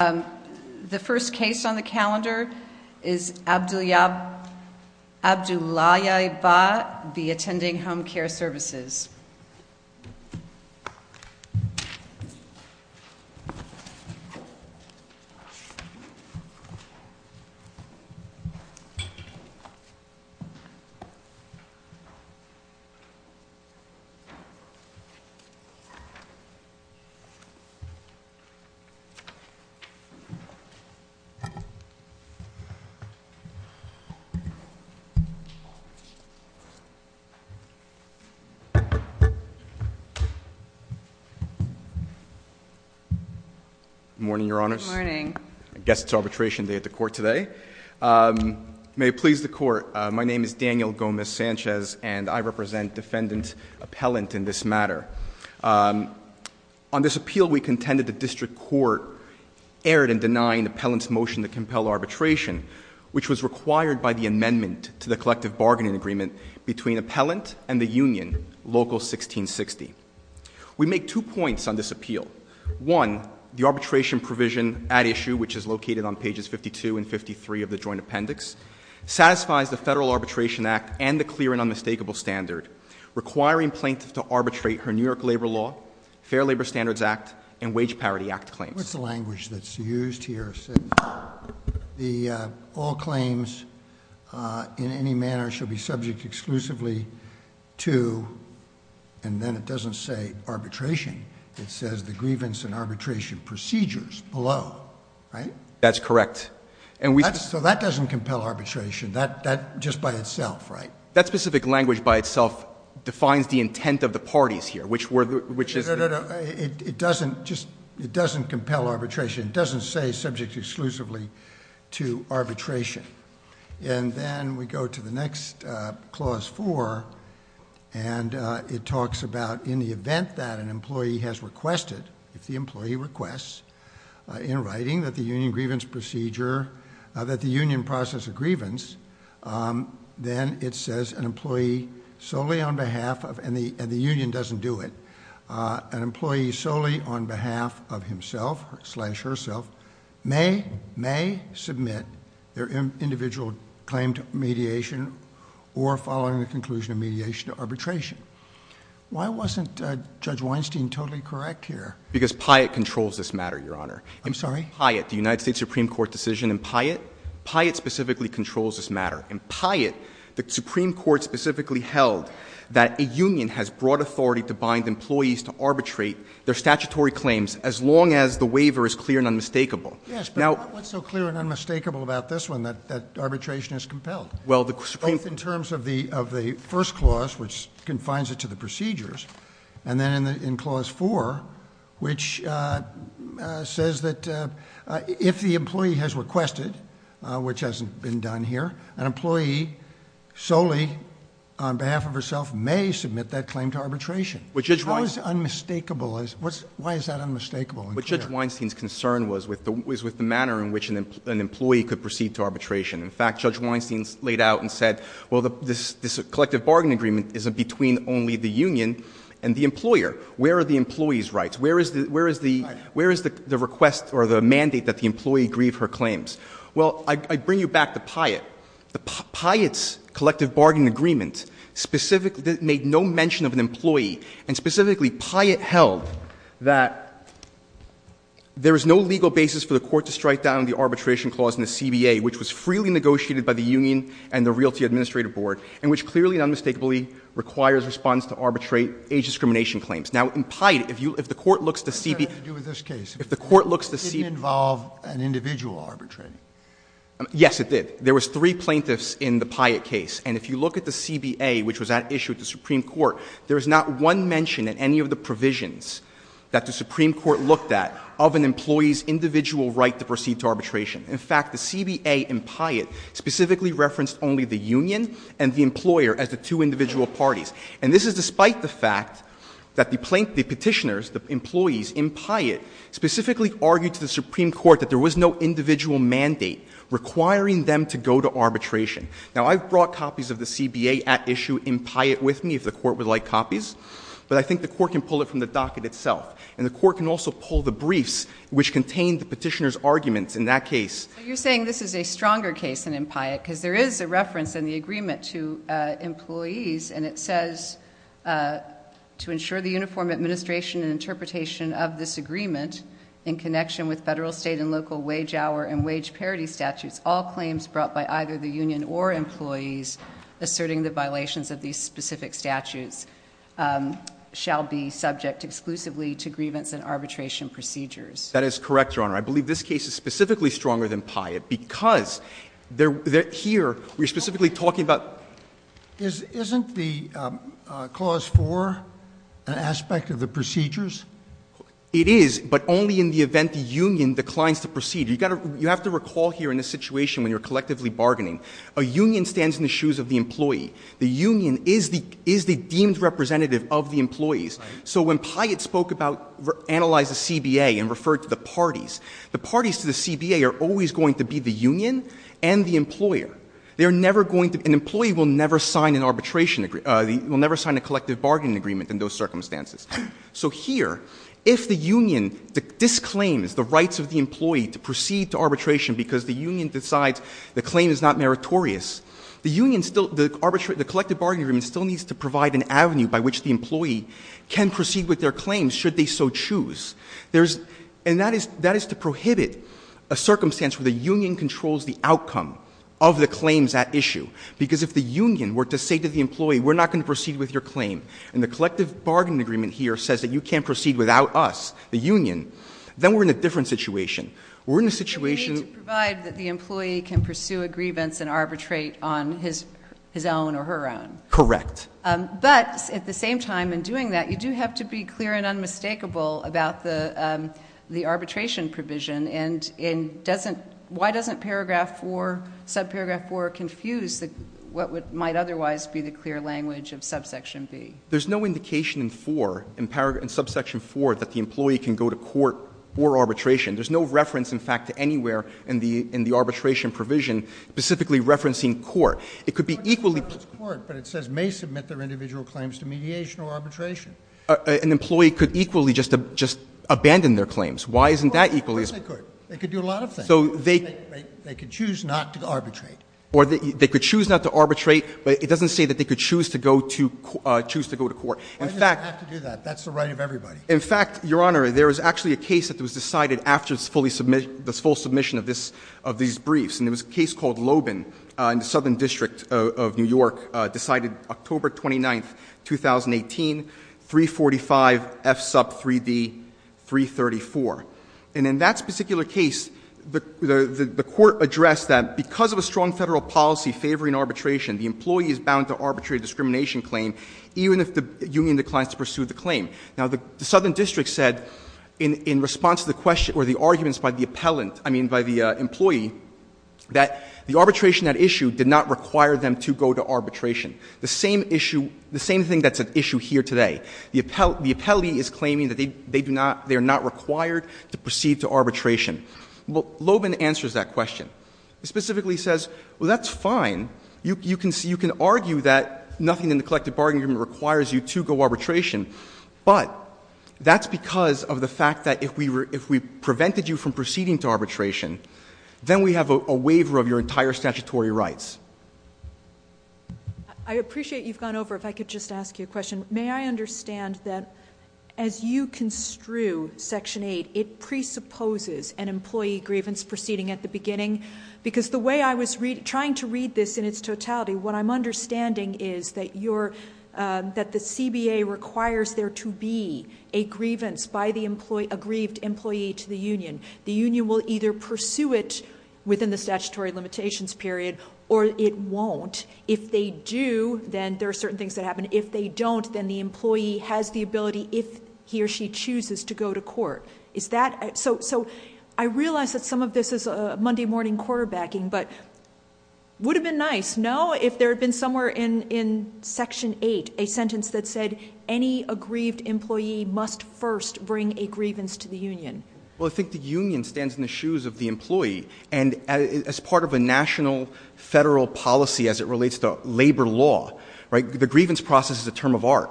The first case on the calendar is Abdullayeva v. Attending Home Care Services. Good morning, Your Honors. Good morning. I guess it's arbitration day at the court today. May it please the court, my name is Daniel Gomez-Sanchez and I represent defendant appellant in this matter. On this appeal, we contended the district court erred in denying the appellant's motion to compel arbitration, which was required by the amendment to the collective bargaining agreement between appellant and the union, Local 1660. We make two points on this appeal. One, the arbitration provision at issue, which is located on pages 52 and 53 of the joint appendix, satisfies the Federal Arbitration Act and the clear and unmistakable standard, requiring plaintiffs to arbitrate her New York Labor Law, Fair Labor Standards Act, and Wage Parity Act claims. What's the language that's used here? All claims in any manner shall be subject exclusively to, and then it doesn't say arbitration, it says the grievance and arbitration procedures below, right? That's correct. So that doesn't compel arbitration, just by itself, right? That specific language by itself defines the intent of the parties here, which is- No, no, no. It doesn't compel arbitration. It doesn't say subject exclusively to arbitration. And then we go to the next clause four, and it talks about in the event that an employee has requested, if the employee requests in writing that the union grievance procedure, that the union process a grievance, then it says an employee solely on behalf of, and the union doesn't do it, an employee solely on behalf of himself, slash herself, may submit their individual claim to mediation or following the conclusion of mediation to arbitration. Why wasn't Judge Weinstein totally correct here? Because Pyatt controls this matter, Your Honor. I'm sorry? Pyatt, the United States Supreme Court decision in Pyatt. Pyatt specifically controls this matter. In Pyatt, the Supreme Court specifically held that a union has broad authority to bind employees to arbitrate their statutory claims as long as the waiver is clear and unmistakable. Yes, but what's so clear and unmistakable about this one that arbitration is compelled? Well, the Supreme- Both in terms of the first clause, which confines it to the procedures, and then in clause four, which says that if the employee has requested, which hasn't been done here, an employee solely on behalf of herself may submit that claim to arbitration. But Judge Weinstein- How is unmistakable? Why is that unmistakable? But Judge Weinstein's concern was with the manner in which an employee could proceed to arbitration. In fact, Judge Weinstein laid out and said, well, this collective bargain agreement isn't between only the union and the employer. Where are the employee's rights? Where is the request or the mandate that the employee grieve her claims? Well, I bring you back to Pyatt. Pyatt's collective bargain agreement specifically made no mention of an employee, and specifically Pyatt held that there is no legal basis for the court to strike down the arbitration clause in the CBA, which was freely negotiated by the union and the Realty Administrative Board, and which clearly and unmistakably requires response to arbitrate age discrimination claims. Now, in Pyatt, if the court looks to CBA- What does that have to do with this case? If the court looks to C- It didn't involve an individual arbitrating. Yes, it did. There was three plaintiffs in the Pyatt case. And if you look at the CBA, which was at issue with the Supreme Court, there is not one mention in any of the provisions that the Supreme Court looked at of an employee's individual right to proceed to arbitration. In fact, the CBA in Pyatt specifically referenced only the union and the employer as the two individual parties. And this is despite the fact that the petitioners, the employees in Pyatt, specifically argued to the Supreme Court that there was no individual mandate requiring them to go to arbitration. Now, I've brought copies of the CBA at issue in Pyatt with me, if the court would like copies, but I think the court can pull it from the docket itself. And the court can also pull the briefs, which contain the petitioners' arguments in that case. You're saying this is a stronger case than in Pyatt, because there is a reference in the agreement to employees, and it says, to ensure the uniform administration and interpretation of this agreement in connection with federal, state, and local wage hour and wage parity statutes, all claims brought by either the union or employees asserting the violations of these specific statutes shall be subject exclusively to grievance and arbitration procedures. That is correct, Your Honor. I believe this case is specifically stronger than Pyatt, because here we're specifically talking about... Isn't the clause 4 an aspect of the procedures? It is, but only in the event the union declines the procedure. You have to recall here in this situation when you're collectively bargaining, a union stands in the shoes of the employee. The union is the deemed representative of the employees. So when Pyatt spoke about analyzing the CBA and referred to the parties, the parties to the CBA are always going to be the union and the employer. They are never going to — an employee will never sign an arbitration — will never sign a collective bargaining agreement in those circumstances. So here, if the union disclaims the rights of the employee to proceed to arbitration because the union decides the claim is not meritorious, the union still — the collective bargaining agreement still needs to provide an avenue by which the employee can proceed with their claims, should they so choose. And that is to prohibit a circumstance where the union controls the outcome of the claims at issue. Because if the union were to say to the employee, we're not going to proceed with your claim, and the collective bargaining agreement here says that you can't proceed without us, the union, then we're in a different situation. We're in a situation — But we need to provide that the employee can pursue a grievance and arbitrate on his own or her own. Correct. But at the same time in doing that, you do have to be clear and unmistakable about the arbitration provision. And why doesn't paragraph 4, subparagraph 4, confuse what might otherwise be the clear language of subsection B? There's no indication in 4, in subsection 4, that the employee can go to court for arbitration. There's no reference, in fact, to anywhere in the arbitration provision specifically referencing court. It could be equally — But it says may submit their individual claims to mediation or arbitration. An employee could equally just abandon their claims. Why isn't that equally — Of course they could. They could do a lot of things. They could choose not to arbitrate. They could choose not to arbitrate, but it doesn't say that they could choose to go to court. Why does it have to do that? That's the right of everybody. In fact, Your Honor, there is actually a case that was decided after this full submission of these briefs. And it was a case called Lobin in the Southern District of New York, decided October 29th, 2018, 345 F sub 3D, 334. And in that particular case, the court addressed that because of a strong Federal policy favoring arbitration, the employee is bound to arbitrate a discrimination claim even if the union declines to pursue the claim. Now, the Southern District said in response to the question or the arguments by the appellant, I mean by the employee, that the arbitration at issue did not require them to go to arbitration. The same issue — the same thing that's at issue here today. The appellee is claiming that they do not — they are not required to proceed to arbitration. Lobin answers that question. He specifically says, well, that's fine. You can argue that nothing in the collective bargaining agreement requires you to go arbitration. But that's because of the fact that if we prevented you from proceeding to arbitration, then we have a waiver of your entire statutory rights. I appreciate you've gone over. If I could just ask you a question. May I understand that as you construe Section 8, it presupposes an employee grievance proceeding at the beginning? Because the way I was trying to read this in its totality, what I'm understanding is that you're — that the CBA requires there to be a grievance by the employee — a grieved employee to the union. The union will either pursue it within the statutory limitations period or it won't. If they do, then there are certain things that happen. If they don't, then the employee has the ability, if he or she chooses, to go to court. Is that — so I realize that some of this is Monday morning quarterbacking, but would have been nice, no? If there had been somewhere in Section 8 a sentence that said, any aggrieved employee must first bring a grievance to the union. Well, I think the union stands in the shoes of the employee. And as part of a national federal policy as it relates to labor law, right, the grievance process is a term of art.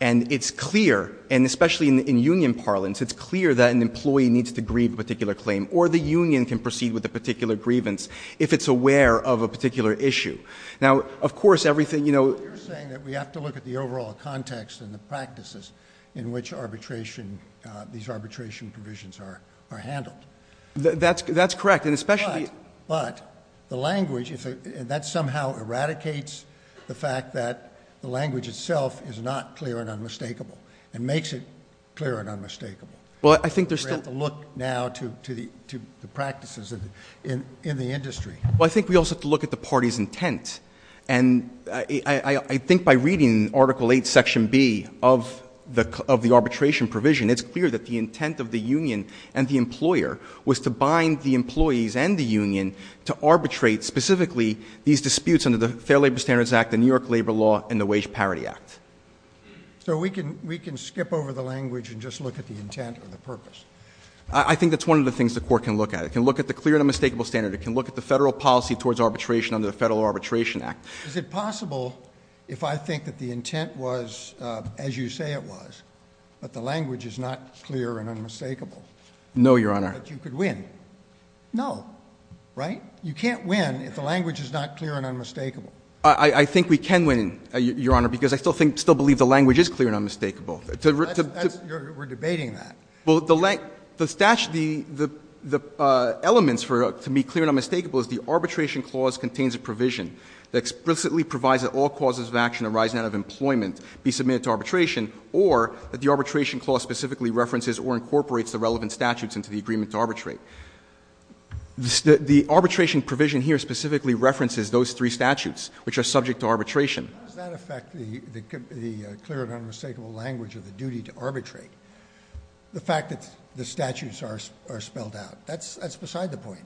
And it's clear, and especially in union parlance, it's clear that an employee needs to grieve a particular claim or the union can proceed with a particular grievance if it's aware of a particular issue. Now, of course, everything — You're saying that we have to look at the overall context and the practices in which arbitration — these arbitration provisions are handled. That's correct. And especially — But the language — that somehow eradicates the fact that the language itself is not clear and unmistakable and makes it clear and unmistakable. Well, I think there's still — We have to look now to the practices in the industry. Well, I think we also have to look at the party's intent. And I think by reading Article VIII, Section B of the arbitration provision, it's clear that the intent of the union and the employer was to bind the employees and the union to arbitrate specifically these disputes under the Fair Labor Standards Act, the New York Labor Law, and the Wage Parity Act. So we can skip over the language and just look at the intent or the purpose. I think that's one of the things the court can look at. It can look at the clear and unmistakable standard. It can look at the federal policy towards arbitration under the Federal Arbitration Act. Is it possible, if I think that the intent was as you say it was, that the language is not clear and unmistakable — No, Your Honor. — that you could win? No. Right? You can't win if the language is not clear and unmistakable. I think we can win, Your Honor, because I still believe the language is clear and unmistakable. We're debating that. Well, the elements to be clear and unmistakable is the arbitration clause contains a provision that explicitly provides that all causes of action arising out of employment be submitted to arbitration or that the arbitration clause specifically references or incorporates the relevant statutes into the agreement to arbitrate. The arbitration provision here specifically references those three statutes, which are subject to arbitration. How does that affect the clear and unmistakable language of the duty to arbitrate? The fact that the statutes are spelled out. That's beside the point.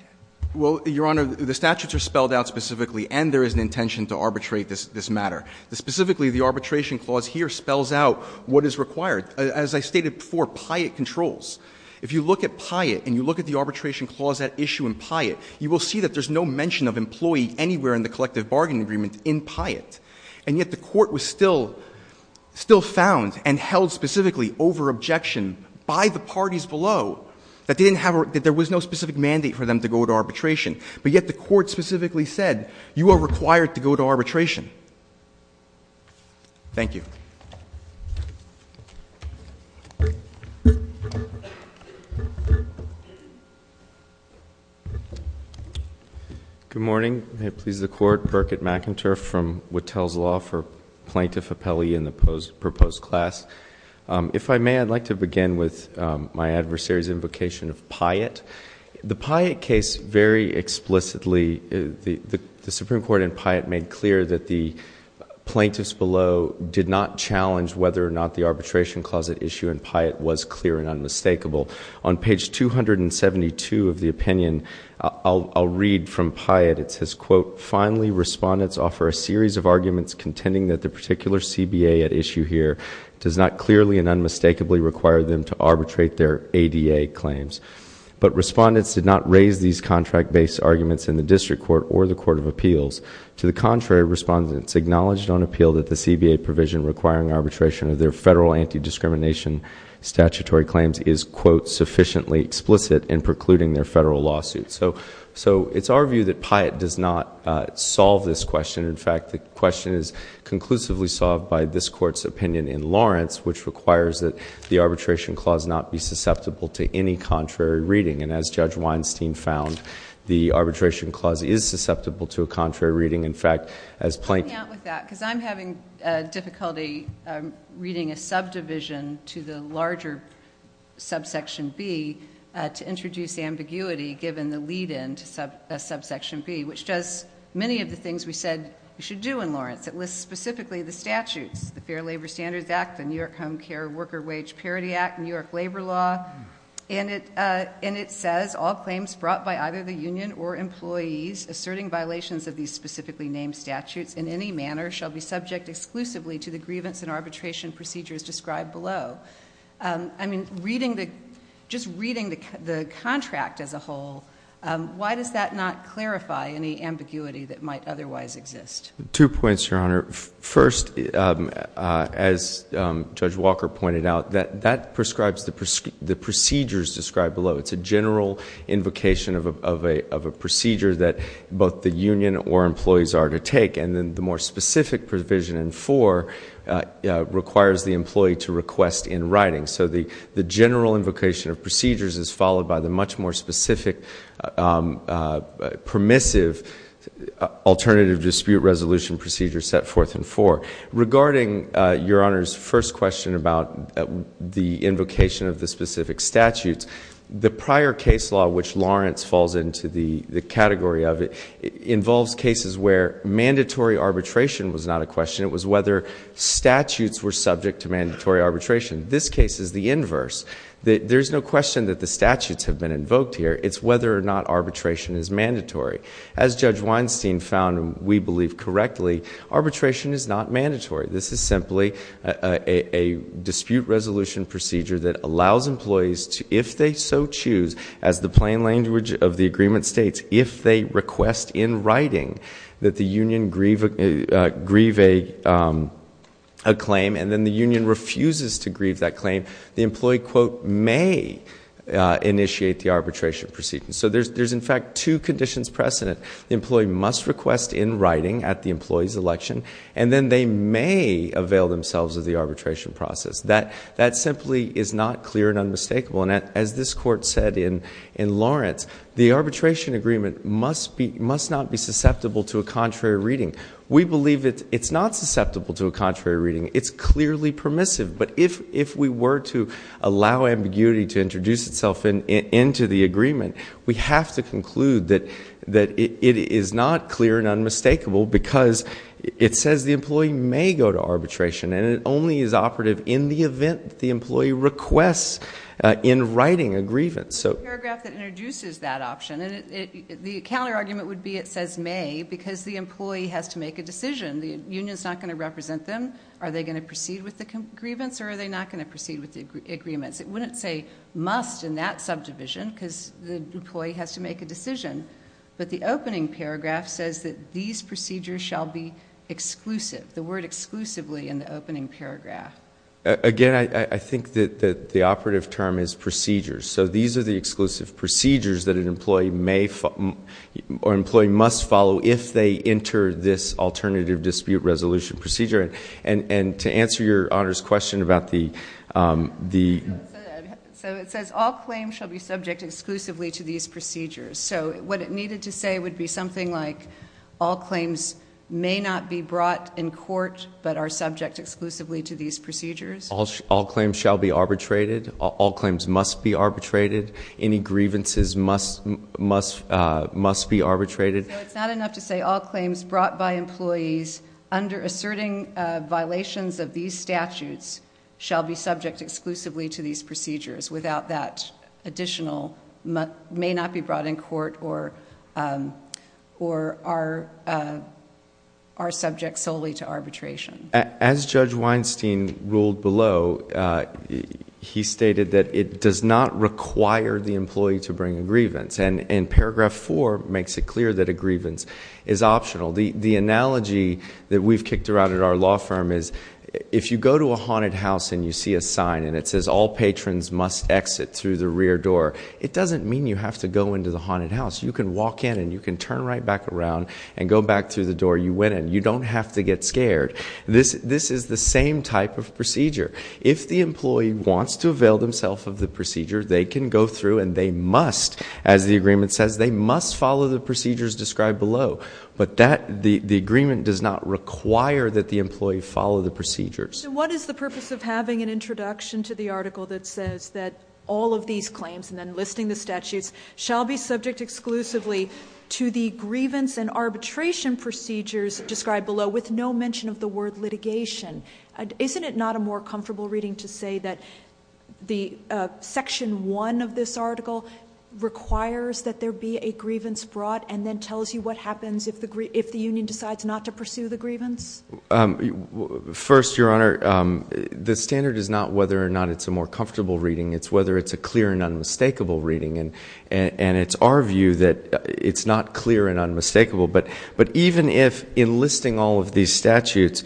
Well, Your Honor, the statutes are spelled out specifically, and there is an intention to arbitrate this matter. Specifically, the arbitration clause here spells out what is required. As I stated before, Pyatt controls. If you look at Pyatt and you look at the arbitration clause at issue in Pyatt, you will see that there's no mention of employee anywhere in the collective bargaining agreement in Pyatt. And yet the court was still found and held specifically over objection by the parties below that there was no specific mandate for them to go to arbitration. But yet the court specifically said, you are required to go to arbitration. Thank you. Good morning. May it please the Court. Birkert McInturff from Wattel's Law for Plaintiff Appellee in the proposed class. If I may, I'd like to begin with my adversary's invocation of Pyatt. The Pyatt case very explicitly, the Supreme Court in Pyatt made clear that the plaintiffs below did not challenge whether or not the arbitration clause at issue in Pyatt was clear and unmistakable. On page 272 of the opinion, I'll read from Pyatt. It says, quote, Finally, respondents offer a series of arguments contending that the particular CBA at issue here does not clearly and unmistakably require them to arbitrate their ADA claims. But respondents did not raise these contract-based arguments in the district court or the court of appeals. To the contrary, respondents acknowledged on appeal that the CBA provision requiring arbitration of their federal anti-discrimination statutory claims is, quote, sufficiently explicit in precluding their federal lawsuit. So it's our view that Pyatt does not solve this question. In fact, the question is conclusively solved by this Court's opinion in Lawrence, which requires that the arbitration clause not be susceptible to any contrary reading. And as Judge Weinstein found, the arbitration clause is susceptible to a contrary reading. In fact, as plaintiffs Coming out with that, because I'm having difficulty reading a subdivision to the larger subsection B to introduce ambiguity given the lead-in to subsection B, which does many of the things we said we should do in Lawrence. It lists specifically the statutes, the Fair Labor Standards Act, the New York Home Care Worker Wage Parity Act, New York Labor Law, and it says, All claims brought by either the union or employees asserting violations of these specifically named statutes in any manner shall be subject exclusively to the grievance and arbitration procedures described below. I mean, just reading the contract as a whole, why does that not clarify any ambiguity that might otherwise exist? Two points, Your Honor. First, as Judge Walker pointed out, that prescribes the procedures described below. It's a general invocation of a procedure that both the union or employees are to take, and then the more specific provision in 4 requires the employee to request in writing. So the general invocation of procedures is followed by the much more specific, permissive alternative dispute resolution procedure set forth in 4. Regarding Your Honor's first question about the invocation of the specific statutes, the prior case law, which Lawrence falls into the category of it, involves cases where mandatory arbitration was not a question. It was whether statutes were subject to mandatory arbitration. This case is the inverse. There's no question that the statutes have been invoked here. It's whether or not arbitration is mandatory. As Judge Weinstein found, and we believe correctly, arbitration is not mandatory. This is simply a dispute resolution procedure that allows employees to, if they so choose, as the plain language of the agreement states, if they request in writing that the union grieve a claim and then the union refuses to grieve that claim, the employee, quote, may initiate the arbitration proceedings. So there's, in fact, two conditions precedent. The employee must request in writing at the employee's election, and then they may avail themselves of the arbitration process. That simply is not clear and unmistakable. And as this Court said in Lawrence, the arbitration agreement must not be susceptible to a contrary reading. We believe it's not susceptible to a contrary reading. It's clearly permissive. But if we were to allow ambiguity to introduce itself into the agreement, we have to conclude that it is not clear and unmistakable because it says the employee may go to arbitration, and it only is operative in the event that the employee requests in writing a grievance. It's the paragraph that introduces that option. And the counterargument would be it says may because the employee has to make a decision. The union is not going to represent them. Are they going to proceed with the grievance, or are they not going to proceed with the agreements? It wouldn't say must in that subdivision because the employee has to make a decision. But the opening paragraph says that these procedures shall be exclusive, the word exclusively in the opening paragraph. Again, I think that the operative term is procedures. So these are the exclusive procedures that an employee must follow if they enter this alternative dispute resolution procedure. And to answer your Honor's question about the ‑‑ So it says all claims shall be subject exclusively to these procedures. So what it needed to say would be something like all claims may not be brought in court, but are subject exclusively to these procedures. All claims shall be arbitrated. All claims must be arbitrated. Any grievances must be arbitrated. So it's not enough to say all claims brought by employees under asserting violations of these statutes shall be subject exclusively to these procedures without that additional may not be brought in court or are subject solely to arbitration. As Judge Weinstein ruled below, he stated that it does not require the employee to bring a grievance. And paragraph 4 makes it clear that a grievance is optional. The analogy that we've kicked around at our law firm is if you go to a haunted house and you see a sign and it says all patrons must exit through the rear door, it doesn't mean you have to go into the haunted house. You can walk in and you can turn right back around and go back through the door you went in. You don't have to get scared. This is the same type of procedure. If the employee wants to avail themselves of the procedure, they can go through and they must, as the agreement says, they must follow the procedures described below. But the agreement does not require that the employee follow the procedures. So what is the purpose of having an introduction to the article that says that all of these claims and then listing the statutes shall be subject exclusively to the grievance and arbitration procedures described below with no mention of the word litigation? Isn't it not a more comfortable reading to say that Section 1 of this article requires that there be a grievance brought and then tells you what happens if the union decides not to pursue the grievance? First, Your Honor, the standard is not whether or not it's a more comfortable reading. It's whether it's a clear and unmistakable reading. And it's our view that it's not clear and unmistakable. But even if enlisting all of these statutes,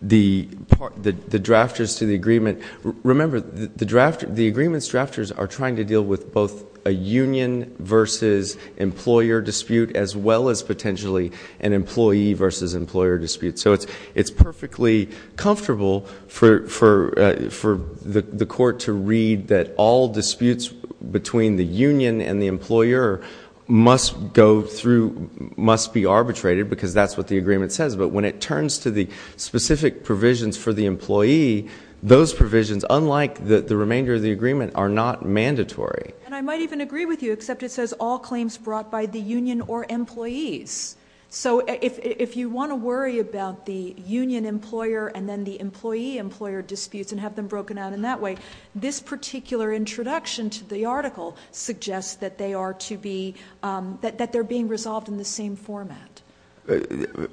the drafters to the agreement, remember the agreement's drafters are trying to deal with both a union versus employer dispute as well as potentially an employee versus employer dispute. So it's perfectly comfortable for the court to read that all disputes between the union and the employer must go through, must be arbitrated because that's what the agreement says. But when it turns to the specific provisions for the employee, those provisions, unlike the remainder of the agreement, are not mandatory. And I might even agree with you, except it says all claims brought by the union or employees. So if you want to worry about the union employer and then the employee employer disputes and have them broken out in that way, this particular introduction to the article suggests that they are to be, that they're being resolved in the same format.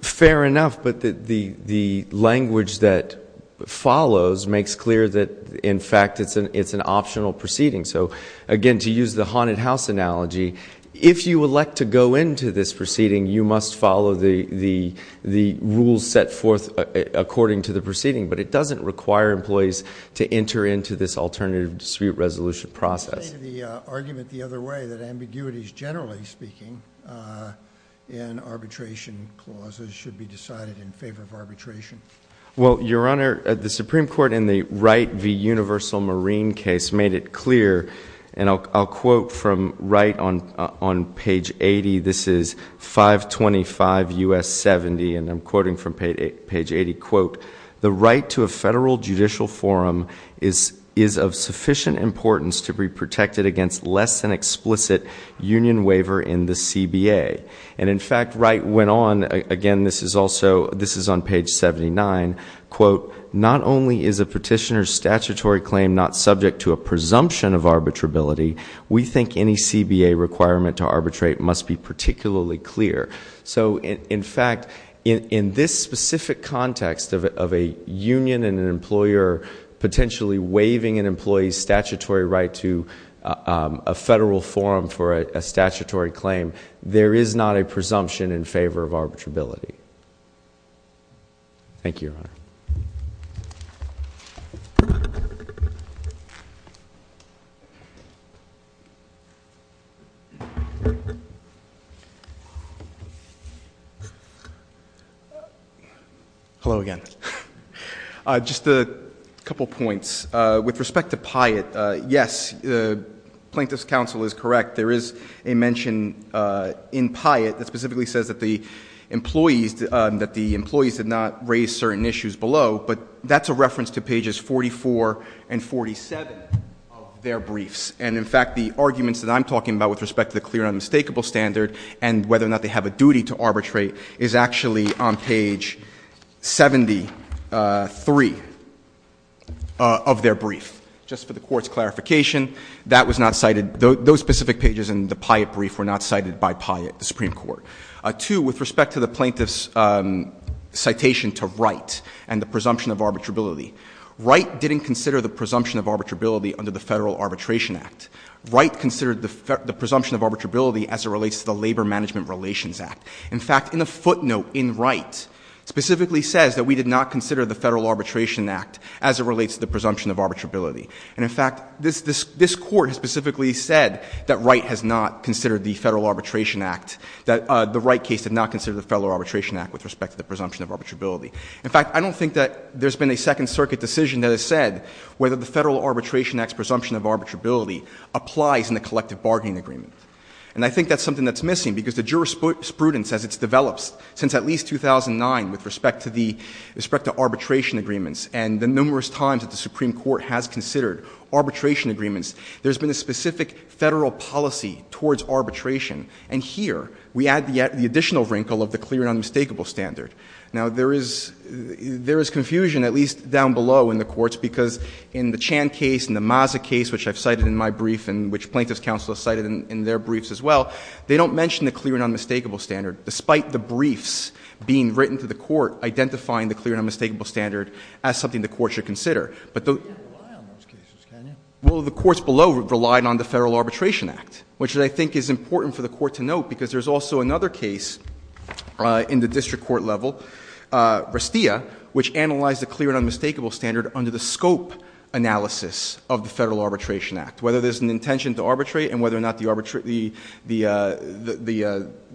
Fair enough, but the language that follows makes clear that, in fact, it's an optional proceeding. So, again, to use the haunted house analogy, if you elect to go into this proceeding, you must follow the rules set forth according to the proceeding. But it doesn't require employees to enter into this alternative dispute resolution process. You made the argument the other way, that ambiguities, generally speaking, in arbitration clauses should be decided in favor of arbitration. Well, Your Honor, the Supreme Court in the Wright v. Universal Marine case made it clear, and I'll quote from Wright on page 80, this is 525 U.S. 70, and I'm quoting from page 80, quote, the right to a federal judicial forum is of sufficient importance to be protected against less than explicit union waiver in the CBA. And, in fact, Wright went on, again, this is also, this is on page 79, quote, not only is a petitioner's statutory claim not subject to a presumption of arbitrability, we think any CBA requirement to arbitrate must be particularly clear. So, in fact, in this specific context of a union and an employer potentially waiving an employee's statutory right to a federal forum for a statutory claim, there is not a presumption in favor of arbitrability. Thank you, Your Honor. Hello again. Just a couple points. With respect to Pyatt, yes, Plaintiff's counsel is correct. There is a mention in Pyatt that specifically says that the employees did not raise certain issues below, but that's a reference to pages 44 and 47 of their briefs. And, in fact, the arguments that I'm talking about with respect to the clear and unmistakable standard and whether or not they have a duty to arbitrate is actually on page 73 of their brief. Just for the Court's clarification, that was not cited. Those specific pages in the Pyatt brief were not cited by Pyatt, the Supreme Court. Two, with respect to the Plaintiff's citation to Wright and the presumption of arbitrability, Wright didn't consider the presumption of arbitrability under the Federal Arbitration Act. Wright considered the presumption of arbitrability as it relates to the Labor Management Relations Act. In fact, in the footnote in Wright, it specifically says that we did not consider the Federal Arbitration Act as it relates to the presumption of arbitrability. And, in fact, this Court has specifically said that Wright has not considered the Federal Arbitration Act, that the Wright case did not consider the Federal Arbitration Act with respect to the presumption of arbitrability. In fact, I don't think that there's been a Second Circuit decision that has said whether the Federal Arbitration Act's presumption of arbitrability applies in the collective bargaining agreement. And I think that's something that's missing, because the jurisprudence as it's developed since at least 2009 with respect to arbitration agreements and the numerous times that the Supreme Court has considered arbitration agreements, there's been a specific Federal policy towards arbitration. And here, we add the additional wrinkle of the clear and unmistakable standard. Now, there is confusion, at least down below in the courts, because in the Chan case, in the Mazza case, which I've cited in my brief and which Plaintiff's counsel has cited in their briefs as well, they don't mention the clear and unmistakable standard, despite the briefs being written to the Court identifying the clear and unmistakable standard as something the Court should consider. But the courts below relied on the Federal Arbitration Act, which I think is important for the Court to note, because there's also another case in the district court level, Restia, which analyzed the clear and unmistakable standard under the scope analysis of the Federal Arbitration Act, whether there's an intention to arbitrate and whether or not the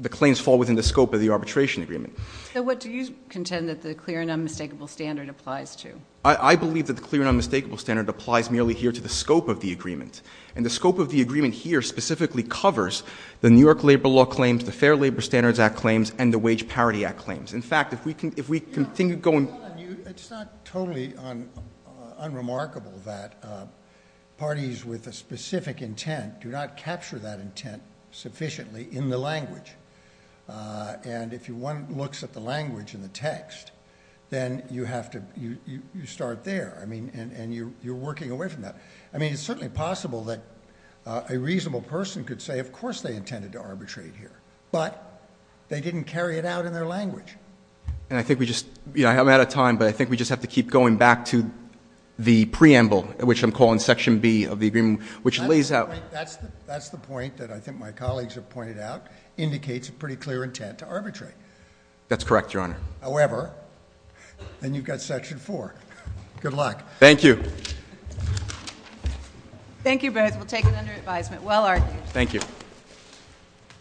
claims fall within the scope of the arbitration agreement. So what do you contend that the clear and unmistakable standard applies to? I believe that the clear and unmistakable standard applies merely here to the scope of the agreement. And the scope of the agreement here specifically covers the New York Labor Law claims, the Fair Labor Standards Act claims, and the Wage Parity Act claims. In fact, if we continue going... It's not totally unremarkable that parties with a specific intent do not capture that intent sufficiently in the language. And if one looks at the language in the text, then you start there, and you're working away from that. I mean, it's certainly possible that a reasonable person could say, of course they intended to arbitrate here, but they didn't carry it out in their language. And I think we just... I'm out of time, but I think we just have to keep going back to the preamble, which I'm calling Section B of the agreement, which lays out... That's the point that I think my colleagues have pointed out, indicates a pretty clear intent to arbitrate. That's correct, Your Honor. However, then you've got Section 4. Good luck. Thank you. Thank you both. We'll take it under advisement. Well argued. Thank you.